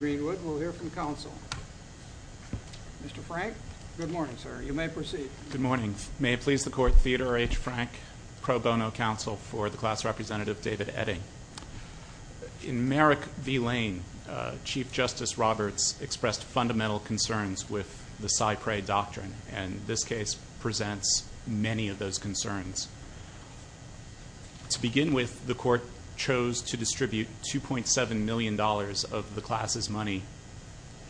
We'll hear from counsel. Mr. Frank, good morning, sir. You may proceed. Good morning. May it please the court, Theodore H. Frank, pro bono counsel for the class representative, David Oetting. In Merrick v. Lane, Chief Justice Roberts expressed fundamental concerns with the cypre doctrine. And this case presents many of those concerns. To begin with, the court chose to distribute $2.7 million of the class's money,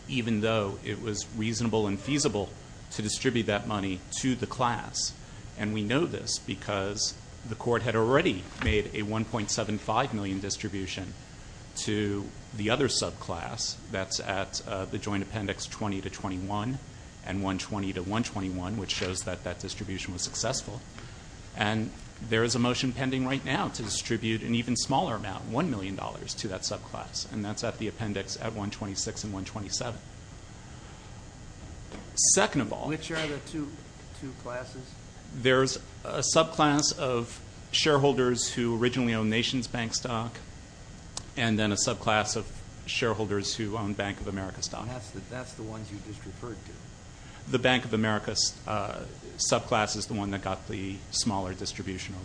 even though it was reasonable and feasible to distribute that money to the class. And we know this because the court had already made a $1.75 million distribution to the other subclass that's at the joint appendix 20 to 21 and 120 to 121, which shows that that distribution was successful. And there is a motion pending right now to distribute an even smaller amount, $1 million to that subclass. And that's at the appendix at 126 and 127. Second of all, there's a subclass of shareholders who originally owned Nation's Bank stock and then a subclass of shareholders who owned Bank of America stock. And that's the ones you just referred to. The Bank of America subclass is the one that got the smaller distribution.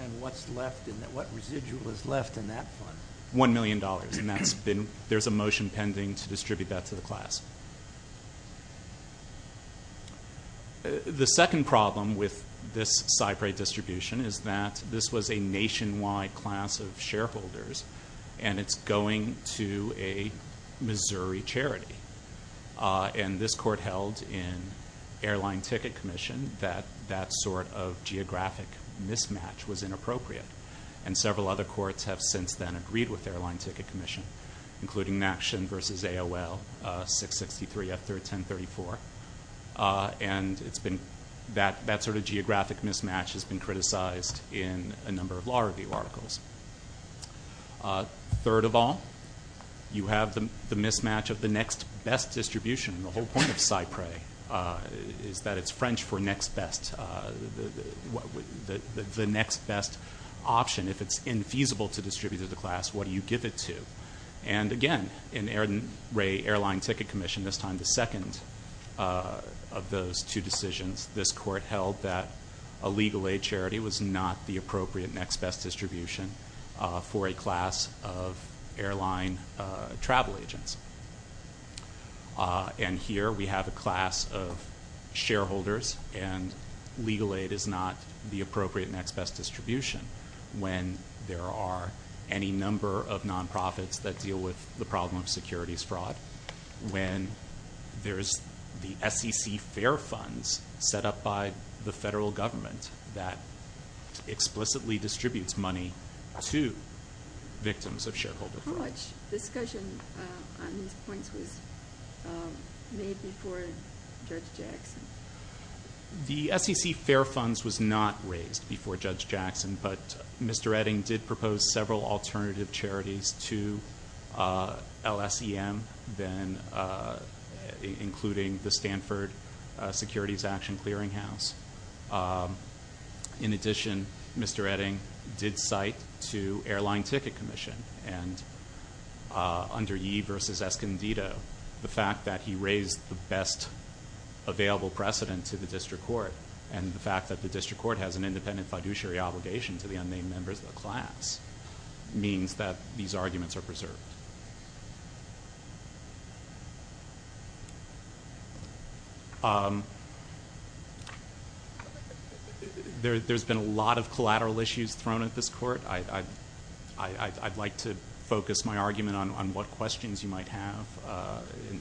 And what's left in that? What residual is left in that fund? $1 million. And there's a motion pending to distribute that to the class. The second problem with this SIPRI distribution is that this was a nationwide class of shareholders. And it's going to a Missouri charity. And this court held in Airline Ticket Commission that that sort of geographic mismatch was inappropriate. And several other courts have since then agreed with Airline Ticket Commission, including Nation versus AOL, 663 F1034. And that sort of geographic mismatch has been criticized in a number of law review articles. Third of all, you have the mismatch of the next best distribution. The whole point of SIPRI is that it's French for next best. The next best option, if it's infeasible to distribute to the class, what do you give it to? And again, in Airline Ticket Commission, this time the second of those two decisions, this court held that a legal aid charity was not the appropriate next best distribution for a class of airline travel agents. And here, we have a class of shareholders. And legal aid is not the appropriate next best distribution when there are any number of nonprofits that deal with the problem of securities fraud, when there is the SEC fair funds set up by the federal government that explicitly distributes money to victims of shareholder fraud. How much discussion on these points was made before Judge Jackson? The SEC fair funds was not raised before Judge Jackson, but Mr. Edding did propose several alternative charities to LSEM, including the Stanford Securities Action Clearing House. In addition, Mr. Edding did cite to Airline Ticket Commission under Yee versus Escondido the fact that he raised the best available precedent to the district court. And the fact that the district court has an independent fiduciary obligation to the unnamed members of the class means that these arguments are preserved. There's been a lot of collateral issues thrown at this court. I'd like to focus my argument on what questions you might have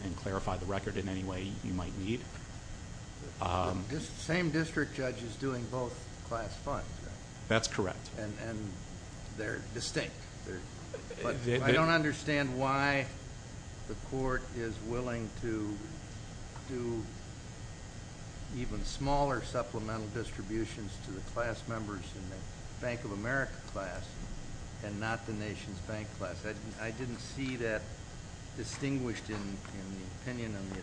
and clarify the record in any way you might need. Same district judge is doing both class funds, right? That's correct. And they're distinct. I don't understand why the court is willing to do even smaller supplemental distributions to the class members in the Bank of America class and not the nation's bank class. I didn't see that distinguished in the opinion on the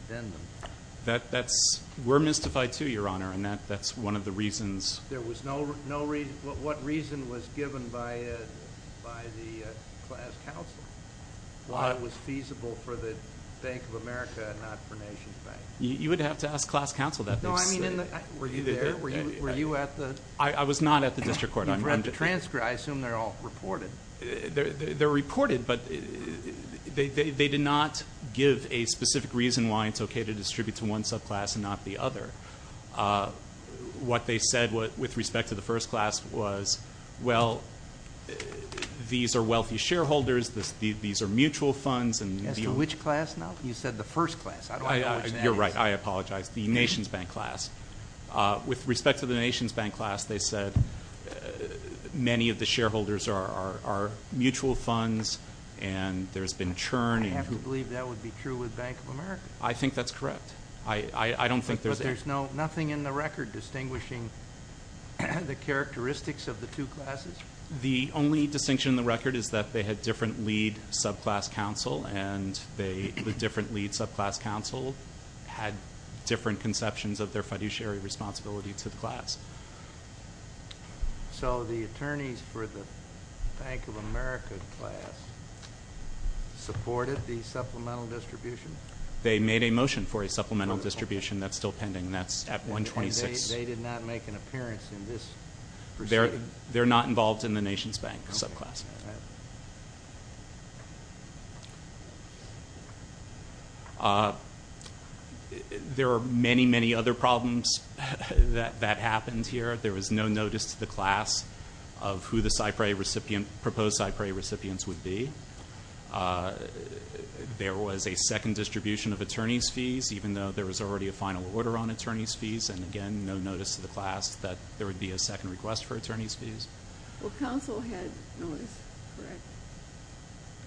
addendum. We're mystified, too, Your Honor. And that's one of the reasons. There was no reason. What reason was given by the class counsel? Why it was feasible for the Bank of America and not for nation's bank? You would have to ask class counsel that. No, I mean, were you there? Were you at the? I was not at the district court. You've read the transcript. I assume they're all reported. They're reported, but they did not give a specific reason why it's OK to distribute to one subclass and not the other. What they said with respect to the first class was, well, these are wealthy shareholders. These are mutual funds. As to which class now? You said the first class. I don't know which that is. You're right. I apologize. The nation's bank class. With respect to the nation's bank class, they said many of the shareholders are mutual funds. And there's been churning. I have to believe that would be true with Bank of America. I think that's correct. I don't think there's any. But there's nothing in the record distinguishing the characteristics of the two classes? The only distinction in the record is that they had different lead subclass counsel. And the different lead subclass counsel had different conceptions of their fiduciary responsibility to the class. So the attorneys for the Bank of America class supported the supplemental distribution? They made a motion for a supplemental distribution that's still pending. That's at 126. They did not make an appearance in this proceeding? They're not involved in the nation's bank subclass. All right. There are many, many other problems that happened here. There was no notice to the class of who the proposed CyPray recipients would be. There was a second distribution of attorneys fees, even though there was already a final order on attorneys fees. And again, no notice to the class that there would be a second request for attorneys fees. Well, counsel had notice, correct?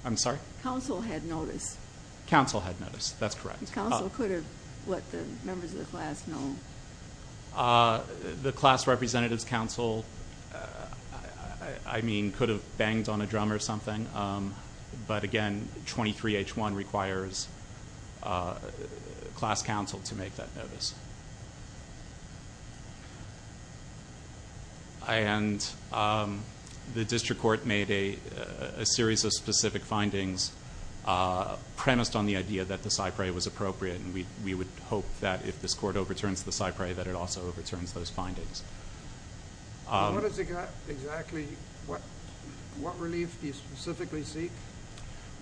I'm sorry? Counsel had notice. Counsel had notice. That's correct. Counsel could have let the members of the class know. The class representatives counsel, I mean, could have banged on a drum or something. But again, 23H1 requires class counsel to make that notice. And the district court made a series of specific findings premised on the idea that the CyPray was appropriate. And we would hope that if this court overturns the CyPray, that it also overturns those findings. What has it got exactly? What relief do you specifically seek?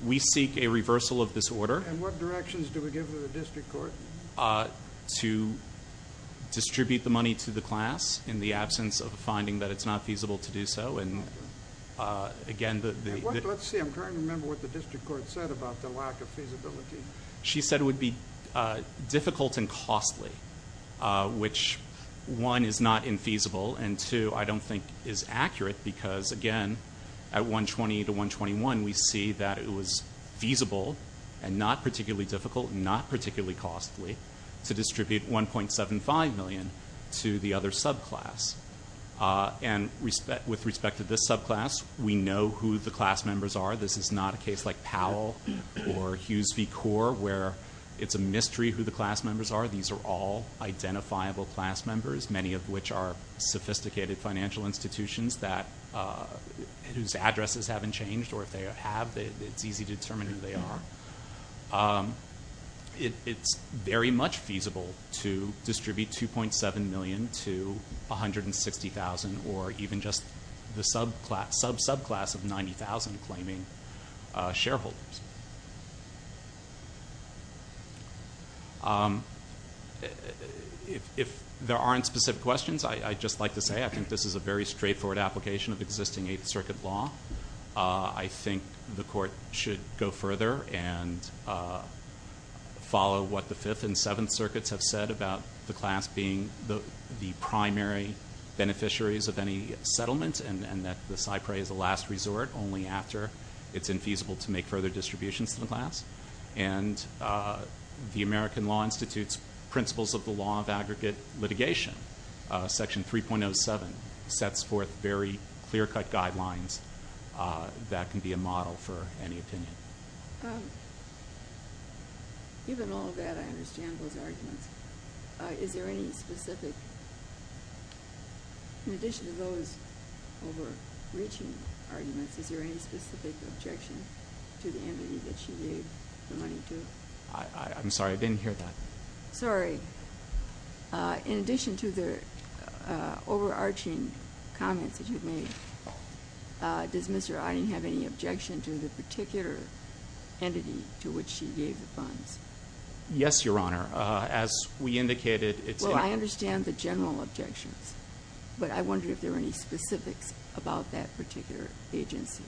We seek a reversal of this order. And what directions do we give to the district court? To distribute the money to the class in the absence of a finding that it's not feasible to do so. And again, the- Let's see. I'm trying to remember what the district court said about the lack of feasibility. She said it would be difficult and costly, which one, is not infeasible. And two, I don't think is accurate. Because again, at 120 to 121, we see that it was feasible and not particularly difficult, not particularly costly, to distribute $1.75 million to the other subclass. And with respect to this subclass, we know who the class members are. This is not a case like Powell or Hughes v. Core, where it's a mystery who the class members are. These are all identifiable class members, many of which are sophisticated financial institutions whose addresses haven't changed. Or if they have, it's easy to determine who they are. It's very much feasible to distribute $2.7 million to 160,000, or even just the subclass of 90,000 claiming shareholders. If there aren't specific questions, I'd just like to say I think this is a very straightforward application of existing Eighth Circuit law. I think the court should go further and follow what the Fifth and Seventh Circuits have said about the class being the primary beneficiaries of any settlement, and that the SIPRE is a last resort only after it's infeasible to make further distributions to the class. And the American Law Institute's Principles of the Law of Aggregate Litigation, Section 3.07, sets forth very clear-cut guidelines that can be a model for any opinion. Even all of that, I understand those arguments. Is there any specific, in addition to those overreaching arguments, is there any specific objection to the envy that she gave the money to? I'm sorry, I didn't hear that. Sorry. In addition to the overarching comments that you've made, does Mr. Eiding have any objection to the particular entity to which she gave the funds? Yes, Your Honor. As we indicated, it's a- Well, I understand the general objections, but I wonder if there are any specifics about that particular agency.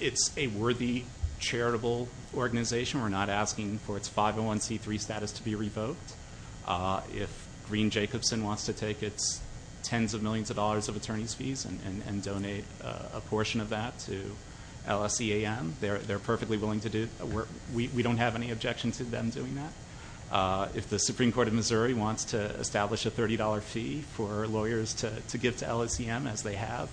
It's a worthy, charitable organization. We're not asking for its 501c3 status to be revoked. If Green Jacobson wants to take its tens of millions of dollars of attorney's fees and donate a portion of that to LSEAM, they're perfectly willing to do it. We don't have any objection to them doing that. If the Supreme Court of Missouri wants to establish a $30 fee for lawyers to give to LSEAM, as they have,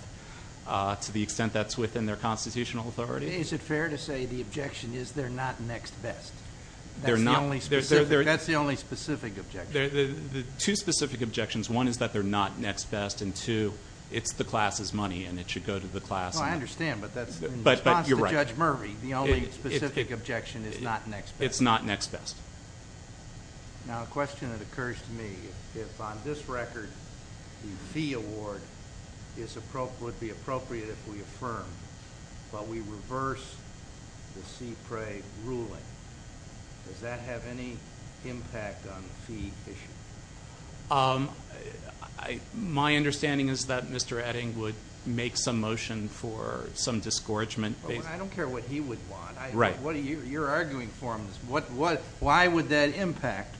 to the extent that's within their constitutional authority. Is it fair to say the objection is they're not next best? They're not. That's the only specific objection. Two specific objections. One is that they're not next best, and two, it's the class's money, and it should go to the class. I understand, but that's, in response to Judge Murphy, the only specific objection is not next best. It's not next best. Now, a question that occurs to me. If on this record, the fee award would be appropriate if we affirmed, but we reverse the CPRA ruling, does that have any impact on the fee issue? My understanding is that Mr. Edding would make some motion for some discouragement. I don't care what he would want. What are you, you're arguing for him. Why would that impact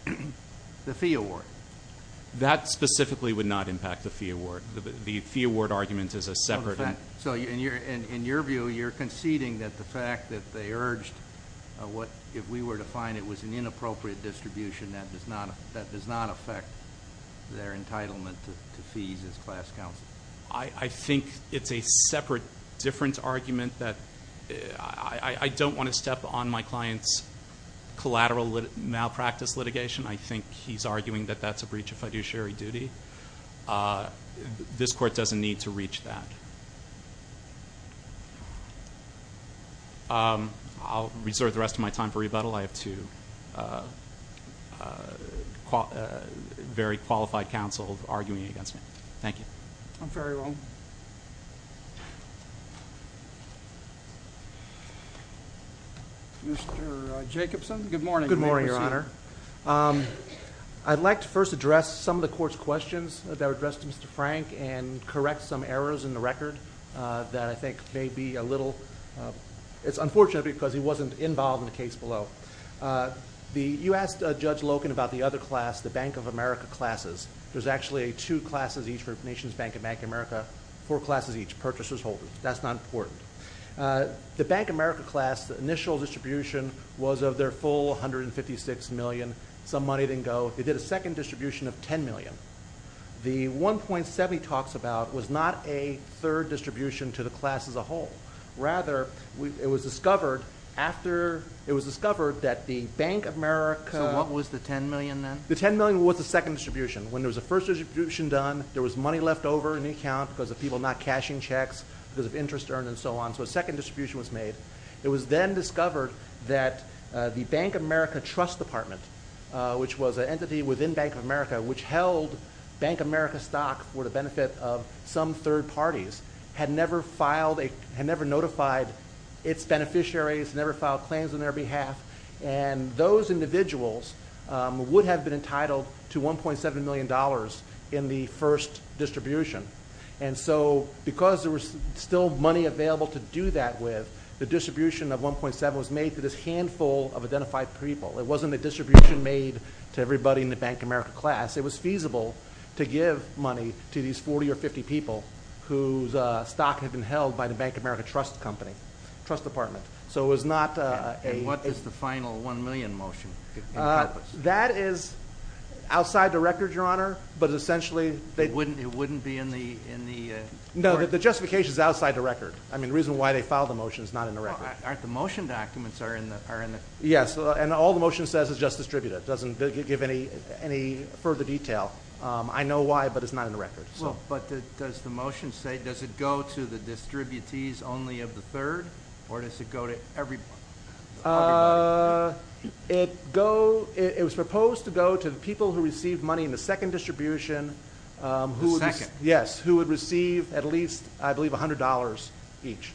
the fee award? That specifically would not impact the fee award. The fee award argument is a separate. So in your view, you're conceding that the fact that they urged what, if we were to find it was an inappropriate distribution, that does not affect their entitlement to fees as class counsel? I think it's a separate, different argument that I don't want to step on my client's collateral malpractice litigation. I think he's arguing that that's a breach of fiduciary duty. This court doesn't need to reach that. I'll reserve the rest of my time for rebuttal. I have two very qualified counsel arguing against me. Thank you. I'm very well. Mr. Jacobson, good morning. Good morning, Your Honor. I'd like to first address some of the court's questions that were addressed to Mr. Frank and correct some errors in the record that I think may be a little, it's unfortunate because he wasn't involved in the case below. You asked Judge Loken about the other class, the Bank of America classes. There's actually two classes each for Nations Bank and Bank of America, four classes each, purchasers, holders. That's not important. The Bank of America class, the initial distribution was of their full 156 million. Some money didn't go. They did a second distribution of 10 million. The 1.7 he talks about was not a third distribution to the class as a whole. Rather, it was discovered after, it was discovered that the Bank of America. So what was the 10 million then? The 10 million was the second distribution. When there was a first distribution done, there was money left over in the account because of people not cashing checks, because of interest earned and so on. So a second distribution was made. It was then discovered that the Bank of America Trust Department, which was an entity within Bank of America which held Bank of America stock for the benefit of some third parties, had never notified its beneficiaries, never filed claims on their behalf. And those individuals would have been entitled to $1.7 million in the first distribution. And so because there was still money available to do that with, the distribution of 1.7 was made to this handful of identified people. It wasn't a distribution made to everybody in the Bank of America class. It was feasible to give money to these 40 or 50 people whose stock had been held by the Bank of America trust company, trust department. So it was not a- And what is the final one million motion in purpose? That is outside the record, Your Honor, but essentially they- It wouldn't be in the- No, the justification is outside the record. I mean, the reason why they filed the motion is not in the record. Aren't the motion documents are in the- Yes, and all the motion says is just distributed. It doesn't give any further detail. I know why, but it's not in the record. But does the motion say, does it go to the distributees only of the third or does it go to every- It was proposed to go to the people who received money in the second distribution- The second? Yes, who would receive at least, I believe, $100 each.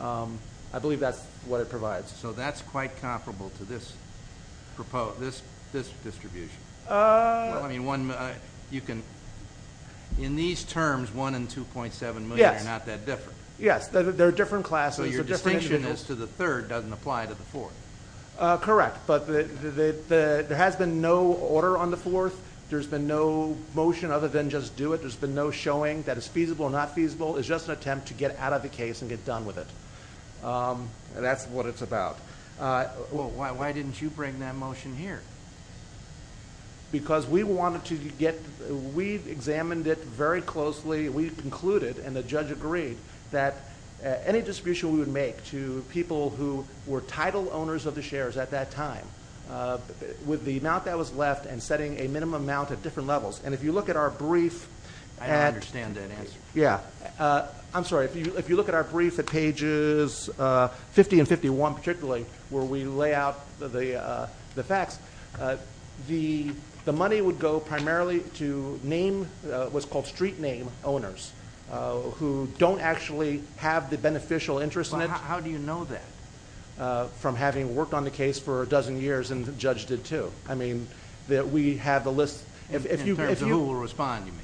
I believe that's what it provides. So that's quite comparable to this distribution. Well, I mean, one, you can, in these terms, one and 2.7 million are not that different. Yes, there are different classes. So your distinction is to the third doesn't apply to the fourth. Correct, but there has been no order on the fourth. There's been no motion other than just do it. There's been no showing that it's feasible or not feasible. It's just an attempt to get out of the case and get done with it. That's what it's about. Why didn't you bring that motion here? Because we wanted to get, we examined it very closely. We concluded and the judge agreed that any distribution we would make to people who were title owners of the shares at that time with the amount that was left and setting a minimum amount at different levels. And if you look at our brief- I don't understand that answer. Yeah, I'm sorry. If you look at our brief at pages 50 and 51 particularly, where we lay out the facts, the money would go primarily to name, what's called street name owners who don't actually have the beneficial interest in it. How do you know that? From having worked on the case for a dozen years and the judge did too. I mean, that we have the list. In terms of who will respond, you mean?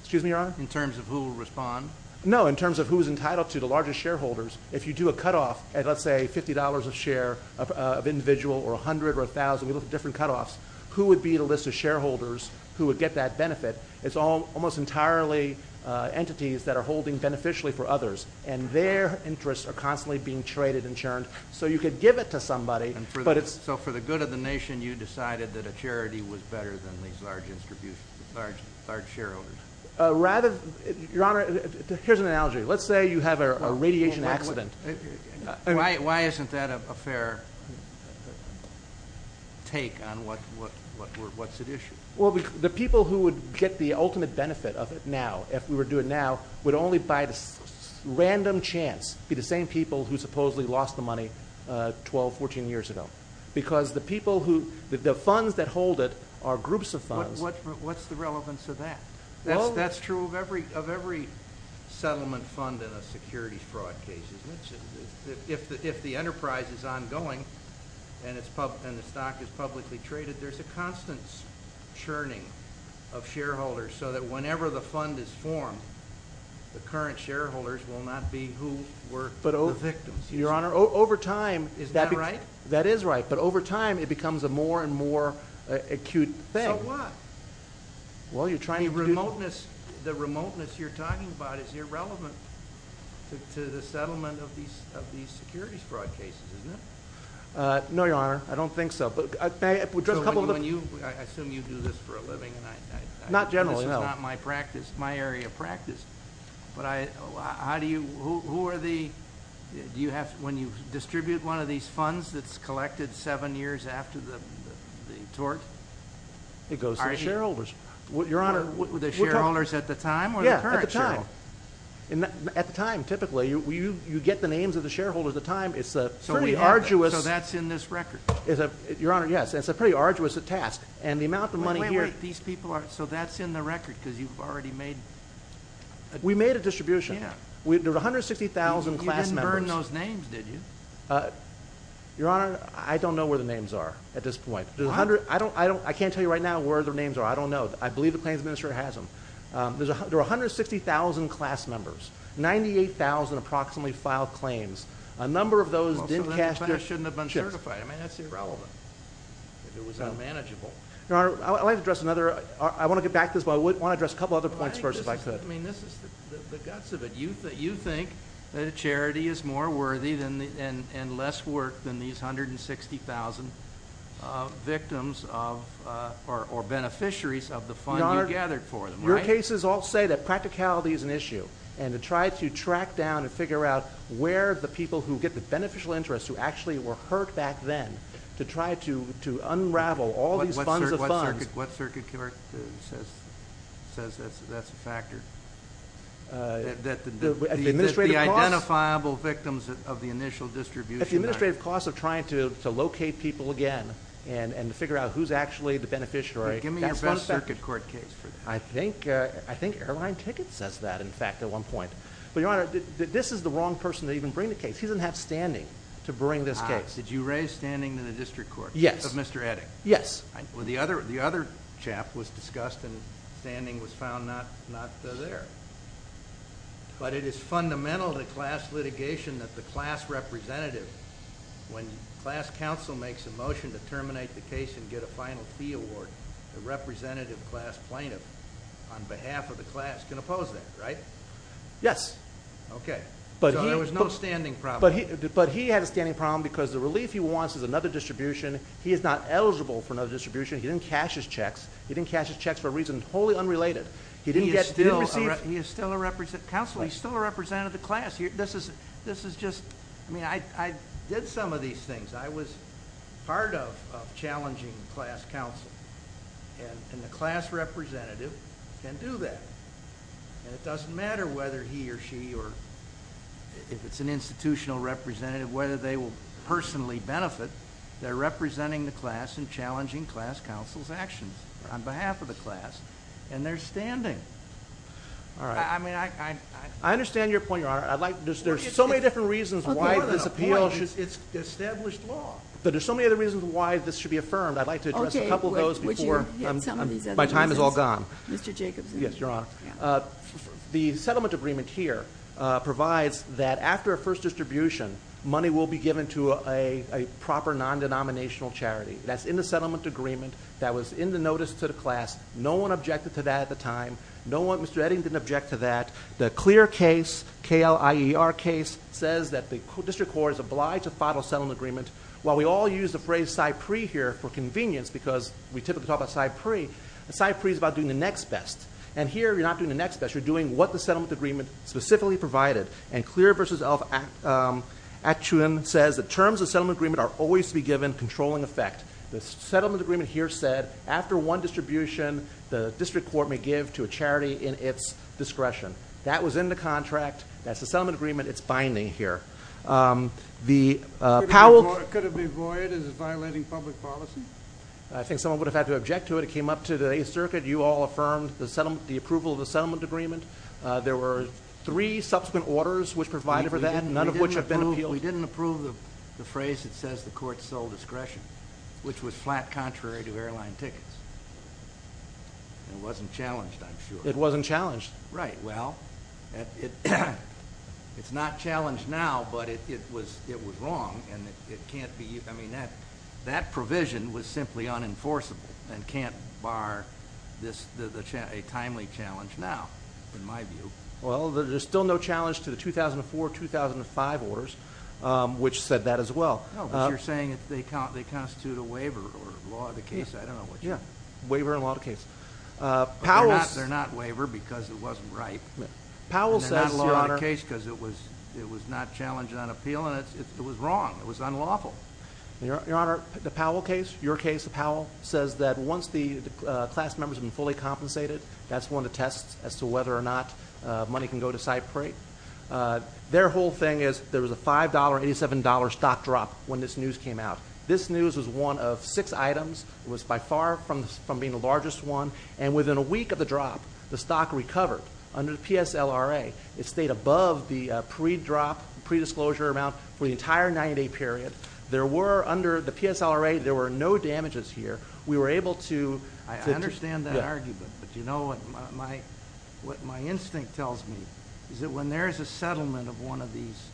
Excuse me, Your Honor? In terms of who will respond? No, in terms of who's entitled to the largest shareholders. If you do a cutoff at let's say $50 a share of individual or a hundred or a thousand, we look at different cutoffs, who would be the list of shareholders who would get that benefit? It's almost entirely entities that are holding beneficially for others and their interests are constantly being traded and churned so you could give it to somebody but it's- So for the good of the nation, you decided that a charity was better than these large shareholders? Rather, Your Honor, here's an analogy. Let's say you have a radiation accident. Why isn't that a fair take on what's at issue? Well, the people who would get the ultimate benefit of it now, if we were to do it now, would only by random chance be the same people who supposedly lost the money 12, 14 years ago because the people who, the funds that hold it are groups of funds. What's the relevance of that? That's true of every settlement fund in a security fraud case. If the enterprise is ongoing and the stock is publicly traded, there's a constant churning of shareholders so that whenever the fund is formed, the current shareholders will not be who were the victims. Your Honor, over time- Is that right? That is right, but over time, it becomes a more and more acute thing. So what? Well, you're trying to do- The remoteness you're talking about is irrelevant. To the settlement of these securities fraud cases, isn't it? No, Your Honor, I don't think so, but may I address a couple of- I assume you do this for a living, and I- Not generally, no. This is not my practice, my area of practice, but how do you, who are the, do you have, when you distribute one of these funds that's collected seven years after the tort? It goes to the shareholders. Your Honor- The shareholders at the time, or the current shareholders? Yeah, at the time. At the time, typically, you get the names of the shareholders at the time, it's a pretty arduous- So we have it, so that's in this record? Your Honor, yes, it's a pretty arduous task, and the amount of money here- Wait, wait, wait, these people are, so that's in the record, because you've already made- We made a distribution. There were 160,000 class members. You didn't burn those names, did you? Your Honor, I don't know where the names are at this point. Why? I can't tell you right now where their names are, I don't know. I believe the claims administrator has them. There were 160,000 class members. 98,000 approximately filed claims. A number of those didn't cash their- Well, so then the class shouldn't have been certified. I mean, that's irrelevant, if it was unmanageable. Your Honor, I'd like to address another, I want to get back to this, but I want to address a couple other points first, if I could. I mean, this is the guts of it. You think that a charity is more worthy and less work than these 160,000 victims of, or beneficiaries of the fund you gathered for them. Your cases all say that practicality is an issue, and to try to track down and figure out where the people who get the beneficial interest, who actually were hurt back then, to try to unravel all these funds of funds- What circuit court says that's a factor? That the- The administrative costs- The identifiable victims of the initial distribution. If the administrative costs of trying to locate people again, and to figure out who's actually the beneficiary- Give me your best circuit court case for that. I think Airline Tickets says that, in fact, at one point. But, Your Honor, this is the wrong person to even bring the case. He doesn't have standing to bring this case. Did you raise standing in the district court? Yes. Of Mr. Edding? Yes. Well, the other chap was discussed, and standing was found not there. But it is fundamental to class litigation that the class representative, when class counsel makes a motion to terminate the case and get a final fee award, the representative class plaintiff, on behalf of the class, can oppose that, right? Yes. Okay. So there was no standing problem. But he had a standing problem, because the relief he wants is another distribution. He is not eligible for another distribution. He didn't cash his checks. He didn't cash his checks for a reason wholly unrelated. He didn't get- He is still a representative. Counsel, he's still a representative of the class. This is just, I mean, I did some of these things. I was part of challenging class counsel, and the class representative can do that. And it doesn't matter whether he or she, or if it's an institutional representative, whether they will personally benefit. They're representing the class and challenging class counsel's actions on behalf of the class, and they're standing. All right. I mean, I- I understand your point, Your Honor. I'd like, there's so many different reasons why this appeal should- But there's so many other reasons why this should be affirmed. I'd like to address a couple of those before- My time is all gone. Mr. Jacobson. Yes, Your Honor. The settlement agreement here provides that after a first distribution, money will be given to a proper non-denominational charity. That's in the settlement agreement. That was in the notice to the class. No one objected to that at the time. No one, Mr. Edding didn't object to that. The clear case, K-L-I-E-R case, says that the district court is obliged to follow settlement agreement. While we all use the phrase Cypree here for convenience, because we typically talk about Cypree, Cypree is about doing the next best. And here, you're not doing the next best. You're doing what the settlement agreement specifically provided. And Clear v. Actuan says that terms of settlement agreement are always to be given controlling effect. The settlement agreement here said, after one distribution, the district court may give to a charity in its discretion. That was in the contract. That's the settlement agreement. It's binding here. The Powell. Could it be void? Is it violating public policy? I think someone would have had to object to it. It came up to the Eighth Circuit. You all affirmed the approval of the settlement agreement. There were three subsequent orders which provided for that, none of which have been appealed. We didn't approve the phrase that says the court's sole discretion, which was flat contrary to airline tickets. It wasn't challenged, I'm sure. It wasn't challenged. Right, well, it's not challenged now, but it was wrong, and it can't be, I mean, that provision was simply unenforceable and can't bar a timely challenge now, in my view. Well, there's still no challenge to the 2004-2005 orders, which said that as well. No, but you're saying that they constitute a waiver or law of the case. I don't know which. Yeah, waiver and law of the case. Powell's. They're not waiver because it wasn't right. Powell says, Your Honor. And they're not law of the case because it was not challenged on appeal, and it was wrong, it was unlawful. Your Honor, the Powell case, your case, the Powell, says that once the class member's been fully compensated, that's one of the tests as to whether or not money can go to Cypreight. Their whole thing is there was a $5, $87 stock drop when this news came out. This news was one of six items. It was by far from being the largest one, and within a week of the drop, the stock recovered under the PSLRA. It stayed above the pre-drop, pre-disclosure amount for the entire 90-day period. There were, under the PSLRA, there were no damages here. We were able to, I understand that argument, but you know what my instinct tells me is that when there is a settlement of one of these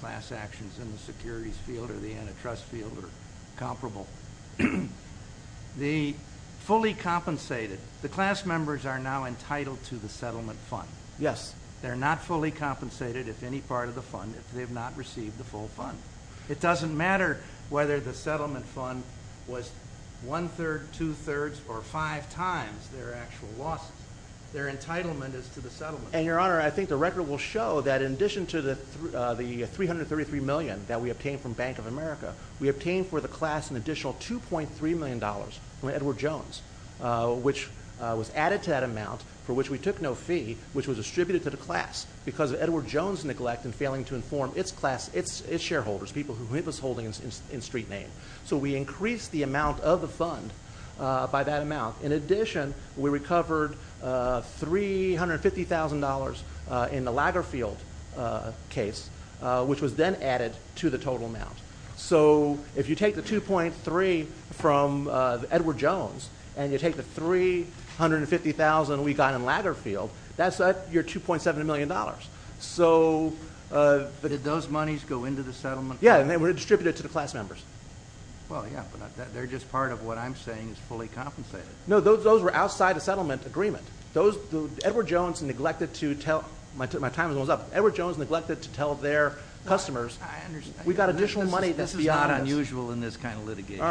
class actions in the securities field or the antitrust field or comparable, the fully compensated, the class members are now entitled to the settlement fund. Yes. They're not fully compensated if any part of the fund, if they have not received the full fund. It doesn't matter whether the settlement fund was one-third, two-thirds, or five times their actual losses. Their entitlement is to the settlement. And, Your Honor, I think the record will show that in addition to the $333 million that we obtained from Bank of America, we obtained for the class an additional $2.3 million from Edward Jones, which was added to that amount for which we took no fee, which was distributed to the class because of Edward Jones' neglect in failing to inform its class, its shareholders, people who he was holding in street name. So we increased the amount of the fund by that amount. In addition, we recovered $350,000 in the Lagerfeld case, which was then added to the total amount. So if you take the $2.3 from Edward Jones and you take the $350,000 we got in Lagerfeld, that's your $2.7 million. But did those monies go into the settlement? Yeah, and they were distributed to the class members. Well, yeah, but they're just part of what I'm saying is fully compensated. No, those were outside the settlement agreement. Edward Jones neglected to tell, my time is almost up, Edward Jones neglected to tell their customers, we've got additional money, this is not unusual in this kind of litigation.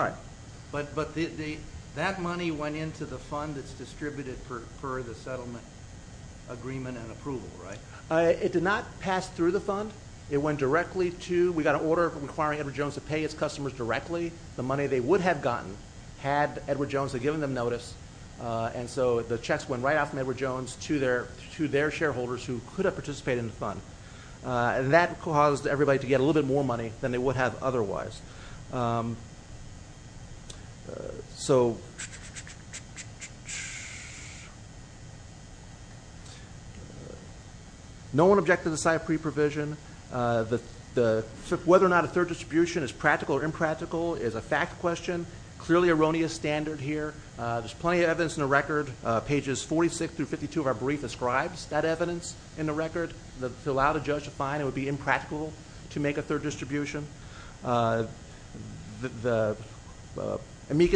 But that money went into the fund that's distributed for the settlement agreement and approval, right? It did not pass through the fund. It went directly to, we got an order requiring Edward Jones to pay its customers directly. The money they would have gotten had Edward Jones had given them notice. And so the checks went right off from Edward Jones to their shareholders who could have participated in the fund and that caused everybody to get a little bit more money than they would have otherwise. So... No one objected to the site pre-provision. Whether or not a third distribution is practical or impractical is a fact question, clearly erroneous standard here. There's plenty of evidence in the record, pages 46 through 52 of our brief describes that evidence in the record to allow the judge to find it would be impractical to make a third distribution. Amicus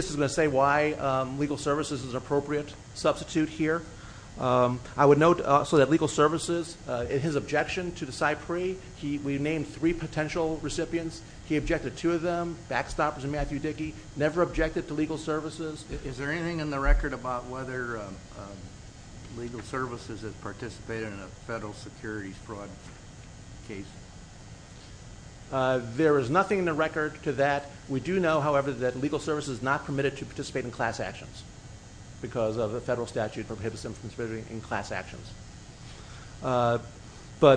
is gonna say why legal services is an appropriate substitute here. I would note also that legal services, in his objection to the site pre, we named three potential recipients. He objected to them, Backstoppers and Matthew Dickey, never objected to legal services. Is there anything in the record about whether legal services has participated in a federal securities fraud case? There is nothing in the record to that. We do know, however, that legal services is not permitted to participate in class actions because of the federal statute for prohibition of participating in class actions. But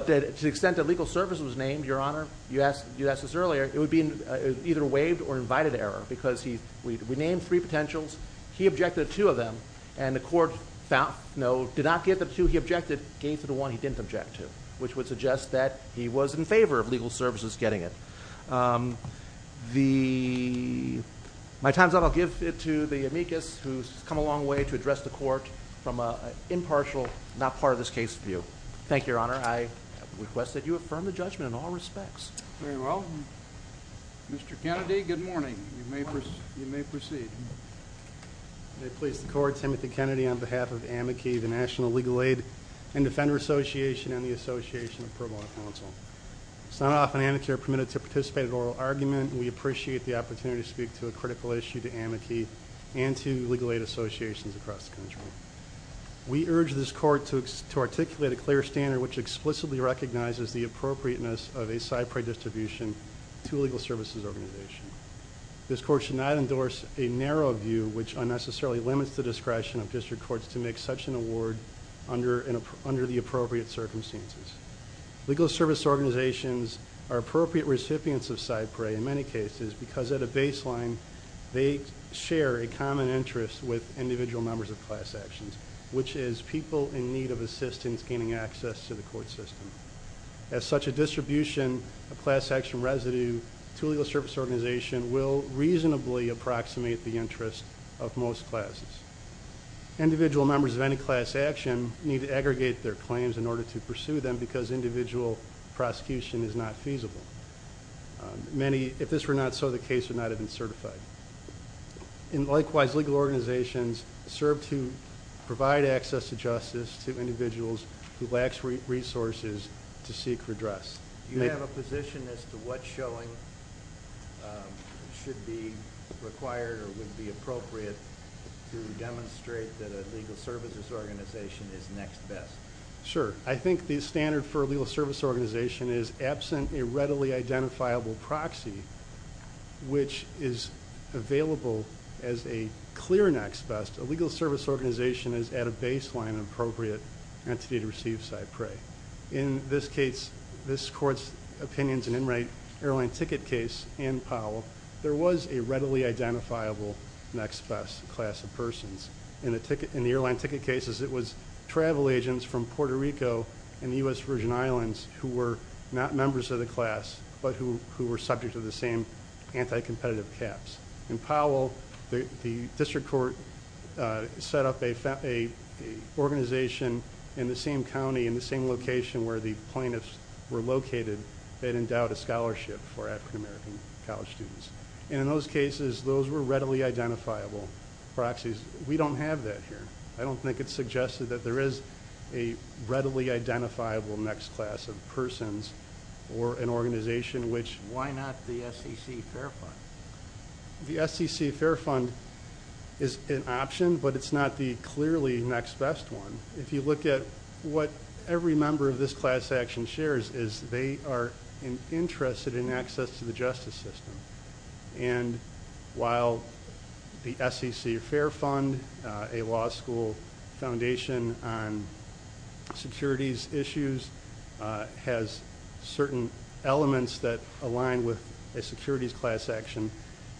to the extent that legal services was named, Your Honor, you asked us earlier, it would be either waived or invited error because we named three potentials, he objected to two of them, and the court found, no, did not give them to, he objected, gave to the one he didn't object to, which would suggest that he was in favor of legal services getting it. My time's up, I'll give it to the Amicus who's come a long way to address the court from an impartial, not part of this case view. Thank you, Your Honor. I request that you affirm the judgment in all respects. Very well. Mr. Kennedy, good morning. You may proceed. May I please the court, Timothy Kennedy on behalf of AMICI, the National Legal Aid and Defender Association and the Association of Pro Bono Counsel. It's not often amicure permitted to participate in oral argument. We appreciate the opportunity to speak to a critical issue to AMICI and to legal aid associations across the country. We urge this court to articulate a clear standard which explicitly recognizes the appropriateness of a SIPRI distribution to a legal services organization. This court should not endorse a narrow view which unnecessarily limits the discretion of district courts to make such an award under the appropriate circumstances. Legal service organizations are appropriate recipients of SIPRI in many cases because at a baseline, they share a common interest with individual members of class actions, which is people in need of assistance gaining access to the court system. As such a distribution of class action residue to a legal service organization will reasonably approximate the interest of most classes. Individual members of any class action need to aggregate their claims in order to pursue them because individual prosecution is not feasible. Many, if this were not so, the case would not have been certified. And likewise, legal organizations serve to provide access to justice to individuals who lack resources to seek redress. Do you have a position as to what showing should be required or would be appropriate to demonstrate that a legal services organization is next best? Sure, I think the standard for a legal service organization is absent a readily identifiable proxy which is available as a clear next best. A legal service organization is at a baseline appropriate entity to receive SIPRI. In this case, this court's opinions and in right airline ticket case in Powell, there was a readily identifiable next best class of persons. In the airline ticket cases, it was travel agents from Puerto Rico and the US Virgin Islands who were not members of the class, but who were subject to the same anti-competitive caps. In Powell, the district court set up a organization in the same county, in the same location where the plaintiffs were located that endowed a scholarship for African-American college students. And in those cases, those were readily identifiable proxies. We don't have that here. I don't think it's suggested that there is a readily identifiable next class of persons or an organization which- Why not the SEC Fair Fund? The SEC Fair Fund is an option, but it's not the clearly next best one. If you look at what every member of this class action shares is they are interested in access to the justice system. And while the SEC Fair Fund, a law school foundation on securities issues, has certain elements that align with a securities class action,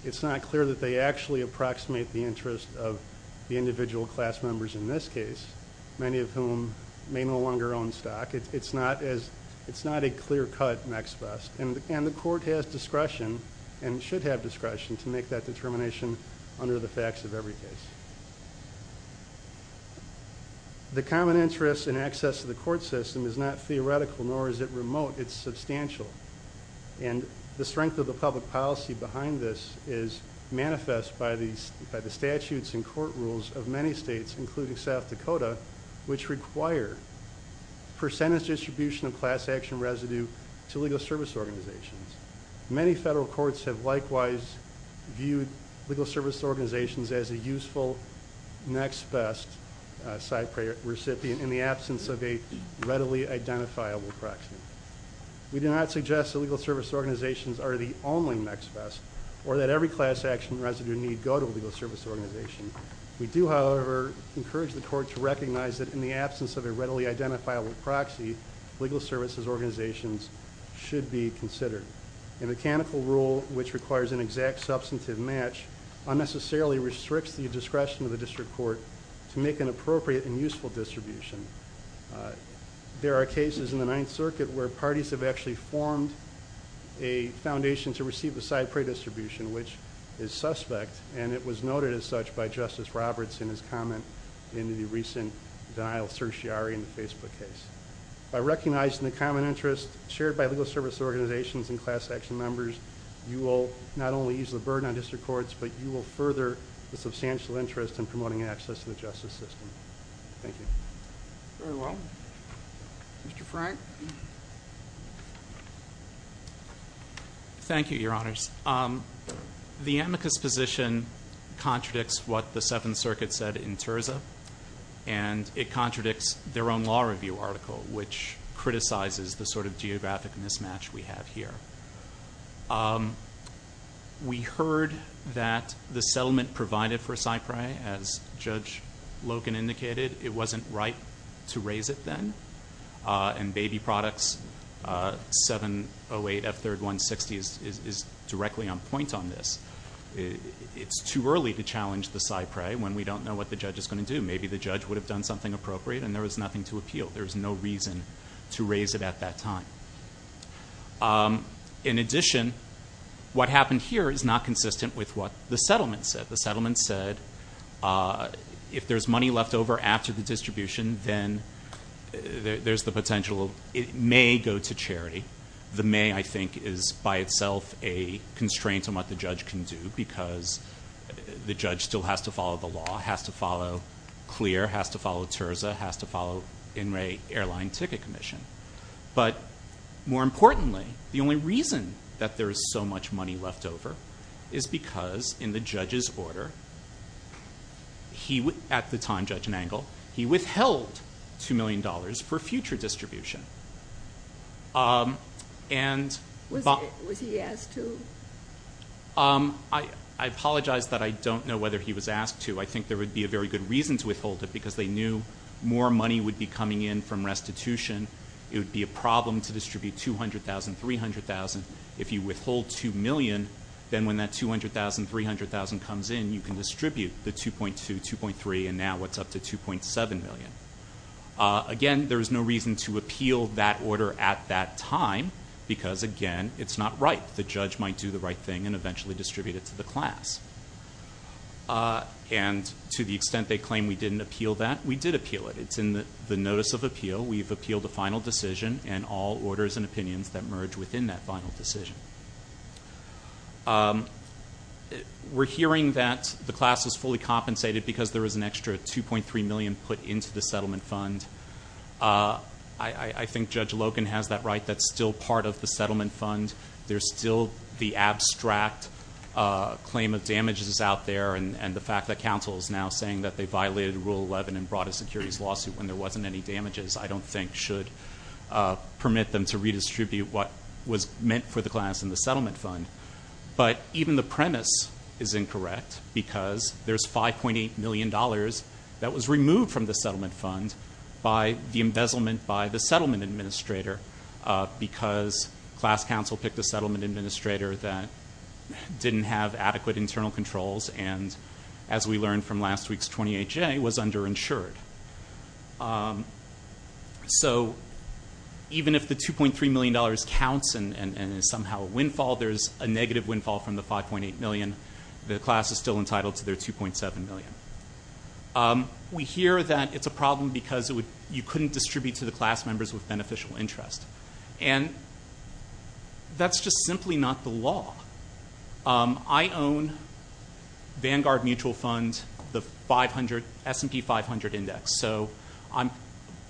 it's not clear that they actually approximate the interest of the individual class members in this case, many of whom may no longer own stock. It's not a clear cut next best. And the court has discretion and should have discretion to make that determination under the facts of every case. The common interest in access to the court system is not theoretical, nor is it remote. It's substantial. And the strength of the public policy behind this is manifest by the statutes and court rules of many states, including South Dakota, which require percentage distribution of class action residue to legal service organizations. Many federal courts have likewise viewed legal service organizations as a useful next best side recipient in the absence of a readily identifiable proxy. We do not suggest that legal service organizations are the only next best, or that every class action residue need go to a legal service organization. We do, however, encourage the court to recognize that in the absence of a readily identifiable proxy, legal services organizations should be considered. A mechanical rule which requires an exact substantive match unnecessarily restricts the discretion of the district court to make an appropriate and useful distribution. There are cases in the Ninth Circuit where parties have actually formed a foundation to receive the side pre-distribution, which is suspect, and it was noted as such by Justice Roberts in his comment in the recent denial certiorari in the Facebook case. By recognizing the common interest shared by legal service organizations and class action members, you will not only ease the burden on district courts, but you will further the substantial interest in promoting access to the justice system. Thank you. Very well. Mr. Frank? Thank you, Your Honors. The amicus position contradicts what the Seventh Circuit said in Terza, and it contradicts their own law review article, which criticizes the sort of geographic mismatch we have here. We heard that the settlement provided for CyPRI, as Judge Logan indicated, it wasn't right to raise it then, and Baby Products 708F3160 is directly on point on this. It's too early to challenge the CyPRI when we don't know what the judge is gonna do. Maybe the judge would have done something appropriate, and there was nothing to appeal. There was no reason to raise it at that time. In addition, what happened here is not consistent with what the settlement said. The settlement said if there's money left over after the distribution, then there's the potential, it may go to charity. The may, I think, is by itself a constraint on what the judge can do, because the judge still has to follow the law, has to follow CLEAR, has to follow Terza, has to follow In re Airline Ticket Commission. But more importantly, the only reason that there is so much money left over is because in the judge's order, at the time, Judge Mangle, he withheld $2 million for future distribution. Was he asked to? I apologize that I don't know whether he was asked to. I think there would be a very good reason to withhold it, because they knew more money would be coming in from restitution. It would be a problem to distribute $200,000, $300,000. If you withhold $2 million, then when that $200,000, $300,000 comes in, you can distribute the 2.2, 2.3, and now it's up to 2.7 million. Again, there is no reason to appeal that order at that time, because again, it's not right. The judge might do the right thing and eventually distribute it to the class. And to the extent they claim we didn't appeal that, we did appeal it. It's in the Notice of Appeal. We've appealed a final decision, and all orders and opinions that merge within that final decision. We're hearing that the class was fully compensated because there was an extra 2.3 million put into the settlement fund. I think Judge Logan has that right. That's still part of the settlement fund. There's still the abstract claim of damages out there, and the fact that counsel is now saying that they violated Rule 11 and brought a securities lawsuit when there wasn't any damages, I don't think should permit them to redistribute what was meant for the class to be compensated. And that's in the settlement fund. But even the premise is incorrect, because there's $5.8 million that was removed from the settlement fund by the embezzlement by the settlement administrator, because class counsel picked a settlement administrator that didn't have adequate internal controls, and as we learned from last week's 20HA, was underinsured. So even if the $2.3 million counts and is somehow a windfall, there's a negative windfall from the $5.8 million. The class is still entitled to their $2.7 million. We hear that it's a problem because you couldn't distribute to the class members with beneficial interest. And that's just simply not the law. I own Vanguard Mutual Fund, the 500, S&P 500 Index. So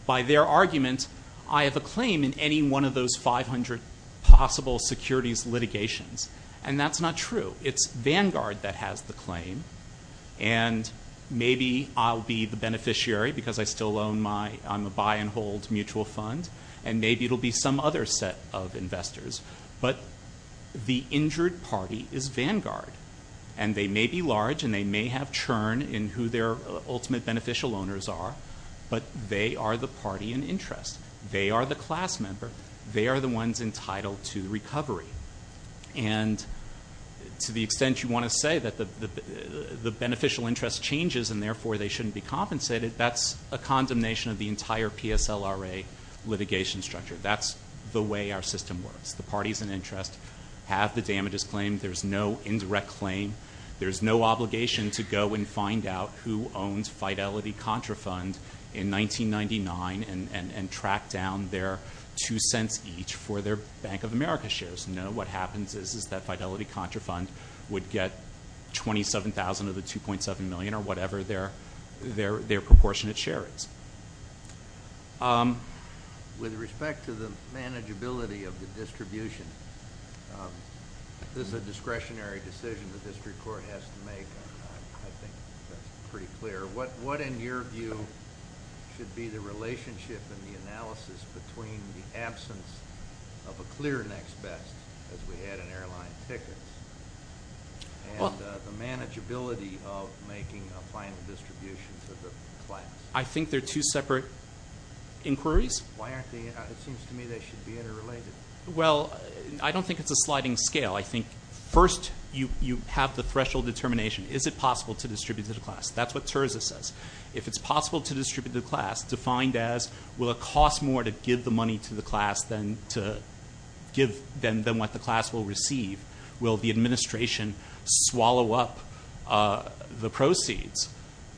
by their argument, I have a claim in any one of those 500 possible securities litigations, and that's not true. It's Vanguard that has the claim, and maybe I'll be the beneficiary because I still own my, I'm a buy-and-hold mutual fund, and maybe it'll be some other set of investors. But the injured party is Vanguard, and they may be large and they may have churn in who their ultimate beneficial owners are, but they are the party in interest. They are the class member. They are the ones entitled to recovery. And to the extent you wanna say that the beneficial interest changes and therefore they shouldn't be compensated, that's a condemnation of the entire PSLRA litigation structure. That's the way our system works. The parties in interest have the damages claim. There's no indirect claim. There's no obligation to go and find out who owns Fidelity Contra Fund in 1999 and track down their two cents each for their Bank of America shares. No, what happens is is that Fidelity Contra Fund would get 27,000 of the 2.7 million or whatever their proportionate share is. With respect to the manageability of the distribution, this is a discretionary decision the district court has to make. I think that's pretty clear. What in your view should be the relationship and the analysis between the absence of a clear next best as we had in airline tickets and the manageability of making a final distribution for the class? I think they're two separate inquiries. Why aren't they? It seems to me they should be interrelated. Well, I don't think it's a sliding scale. I think first you have the threshold determination. Is it possible to distribute to the class? That's what Terza says. If it's possible to distribute to the class, defined as will it cost more to give the money to the class than what the class will receive? Will the administration swallow up the proceeds?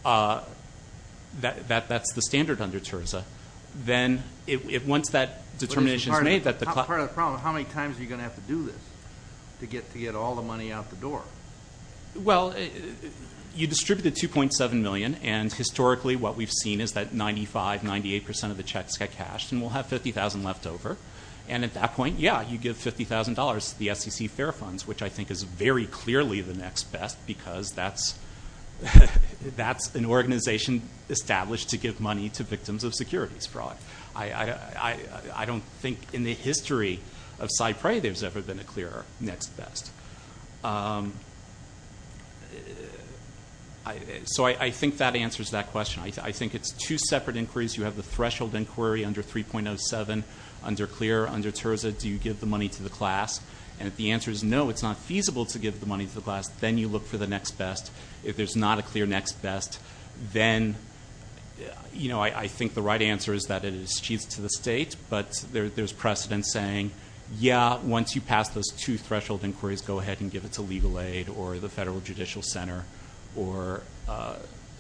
That's the standard under Terza. Once that determination's made that the class- Part of the problem, how many times are you gonna have to do this to get all the money out the door? Well, you distribute the 2.7 million and historically what we've seen is that 95, 98% of the checks get cashed and we'll have 50,000 left over. And at that point, yeah, you give $50,000 to the SEC Fair Funds, which I think is very clearly the next best because that's an organization established to give money to victims of securities fraud. I don't think in the history of Cypre there's ever been a clear next best. So I think that answers that question. I think it's two separate inquiries. You have the threshold inquiry under 3.07, under Clear, under Terza, do you give the money to the class? And if the answer is no, it's not feasible to give the money to the class, then you look for the next best. If there's not a clear next best, then I think the right answer is that it is achieved to the state, but there's precedent saying, yeah, once you pass those two threshold inquiries, go ahead and give it to Legal Aid or the Federal Judicial Center or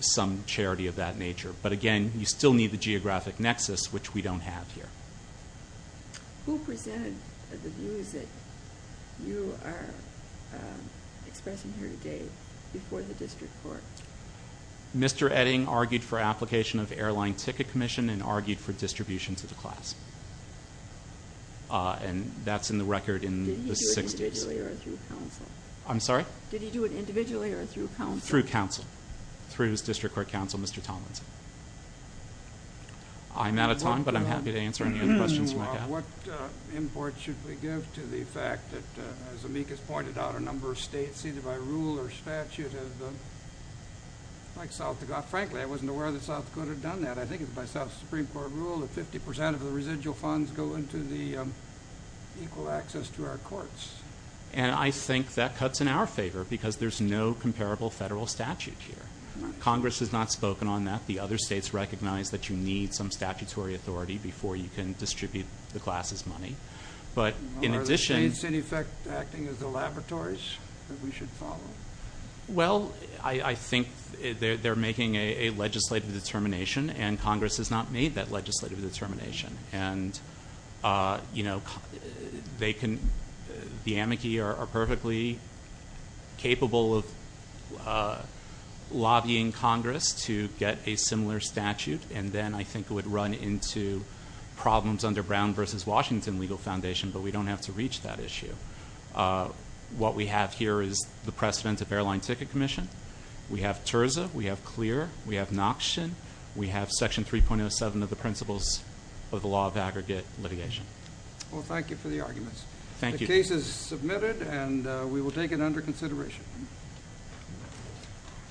some charity of that nature. But again, you still need the geographic nexus, which we don't have here. Who presented the views that you are expressing here today before the district court? Mr. Edding argued for application of Airline Ticket Commission and argued for distribution to the class. And that's in the record in the 60s. Did he do it individually or through counsel? I'm sorry? Did he do it individually or through counsel? Through counsel, through his district court counsel, Mr. Tomlinson. I'm out of time, but I'm happy to answer any other questions you might have. What import should we give to the fact that, as Amicus pointed out, a number of states either by rule or statute have been, like South Dakota, frankly, I wasn't aware that South Dakota had done that. I think it's by South Supreme Court rule that 50% of the residual funds go into the equal access to our courts. And I think that cuts in our favor because there's no comparable federal statute here. Congress has not spoken on that. The other states recognize that you need some statutory authority before you can distribute the class's money. But in addition- Are the states, in effect, acting as the laboratories that we should follow? Well, I think they're making a legislative determination and Congress has not made that legislative determination. And, you know, the amici are perfectly capable of lobbying Congress to get a similar statute, and then I think it would run into problems under Brown versus Washington legal foundation, but we don't have to reach that issue. What we have here is the precedent of airline ticket commission. We have TIRSA, we have CLEAR, we have Noxian, we have section 3.07 of the principles of the law of aggregate litigation. Well, thank you for the arguments. Thank you. The case is submitted and we will take it under consideration.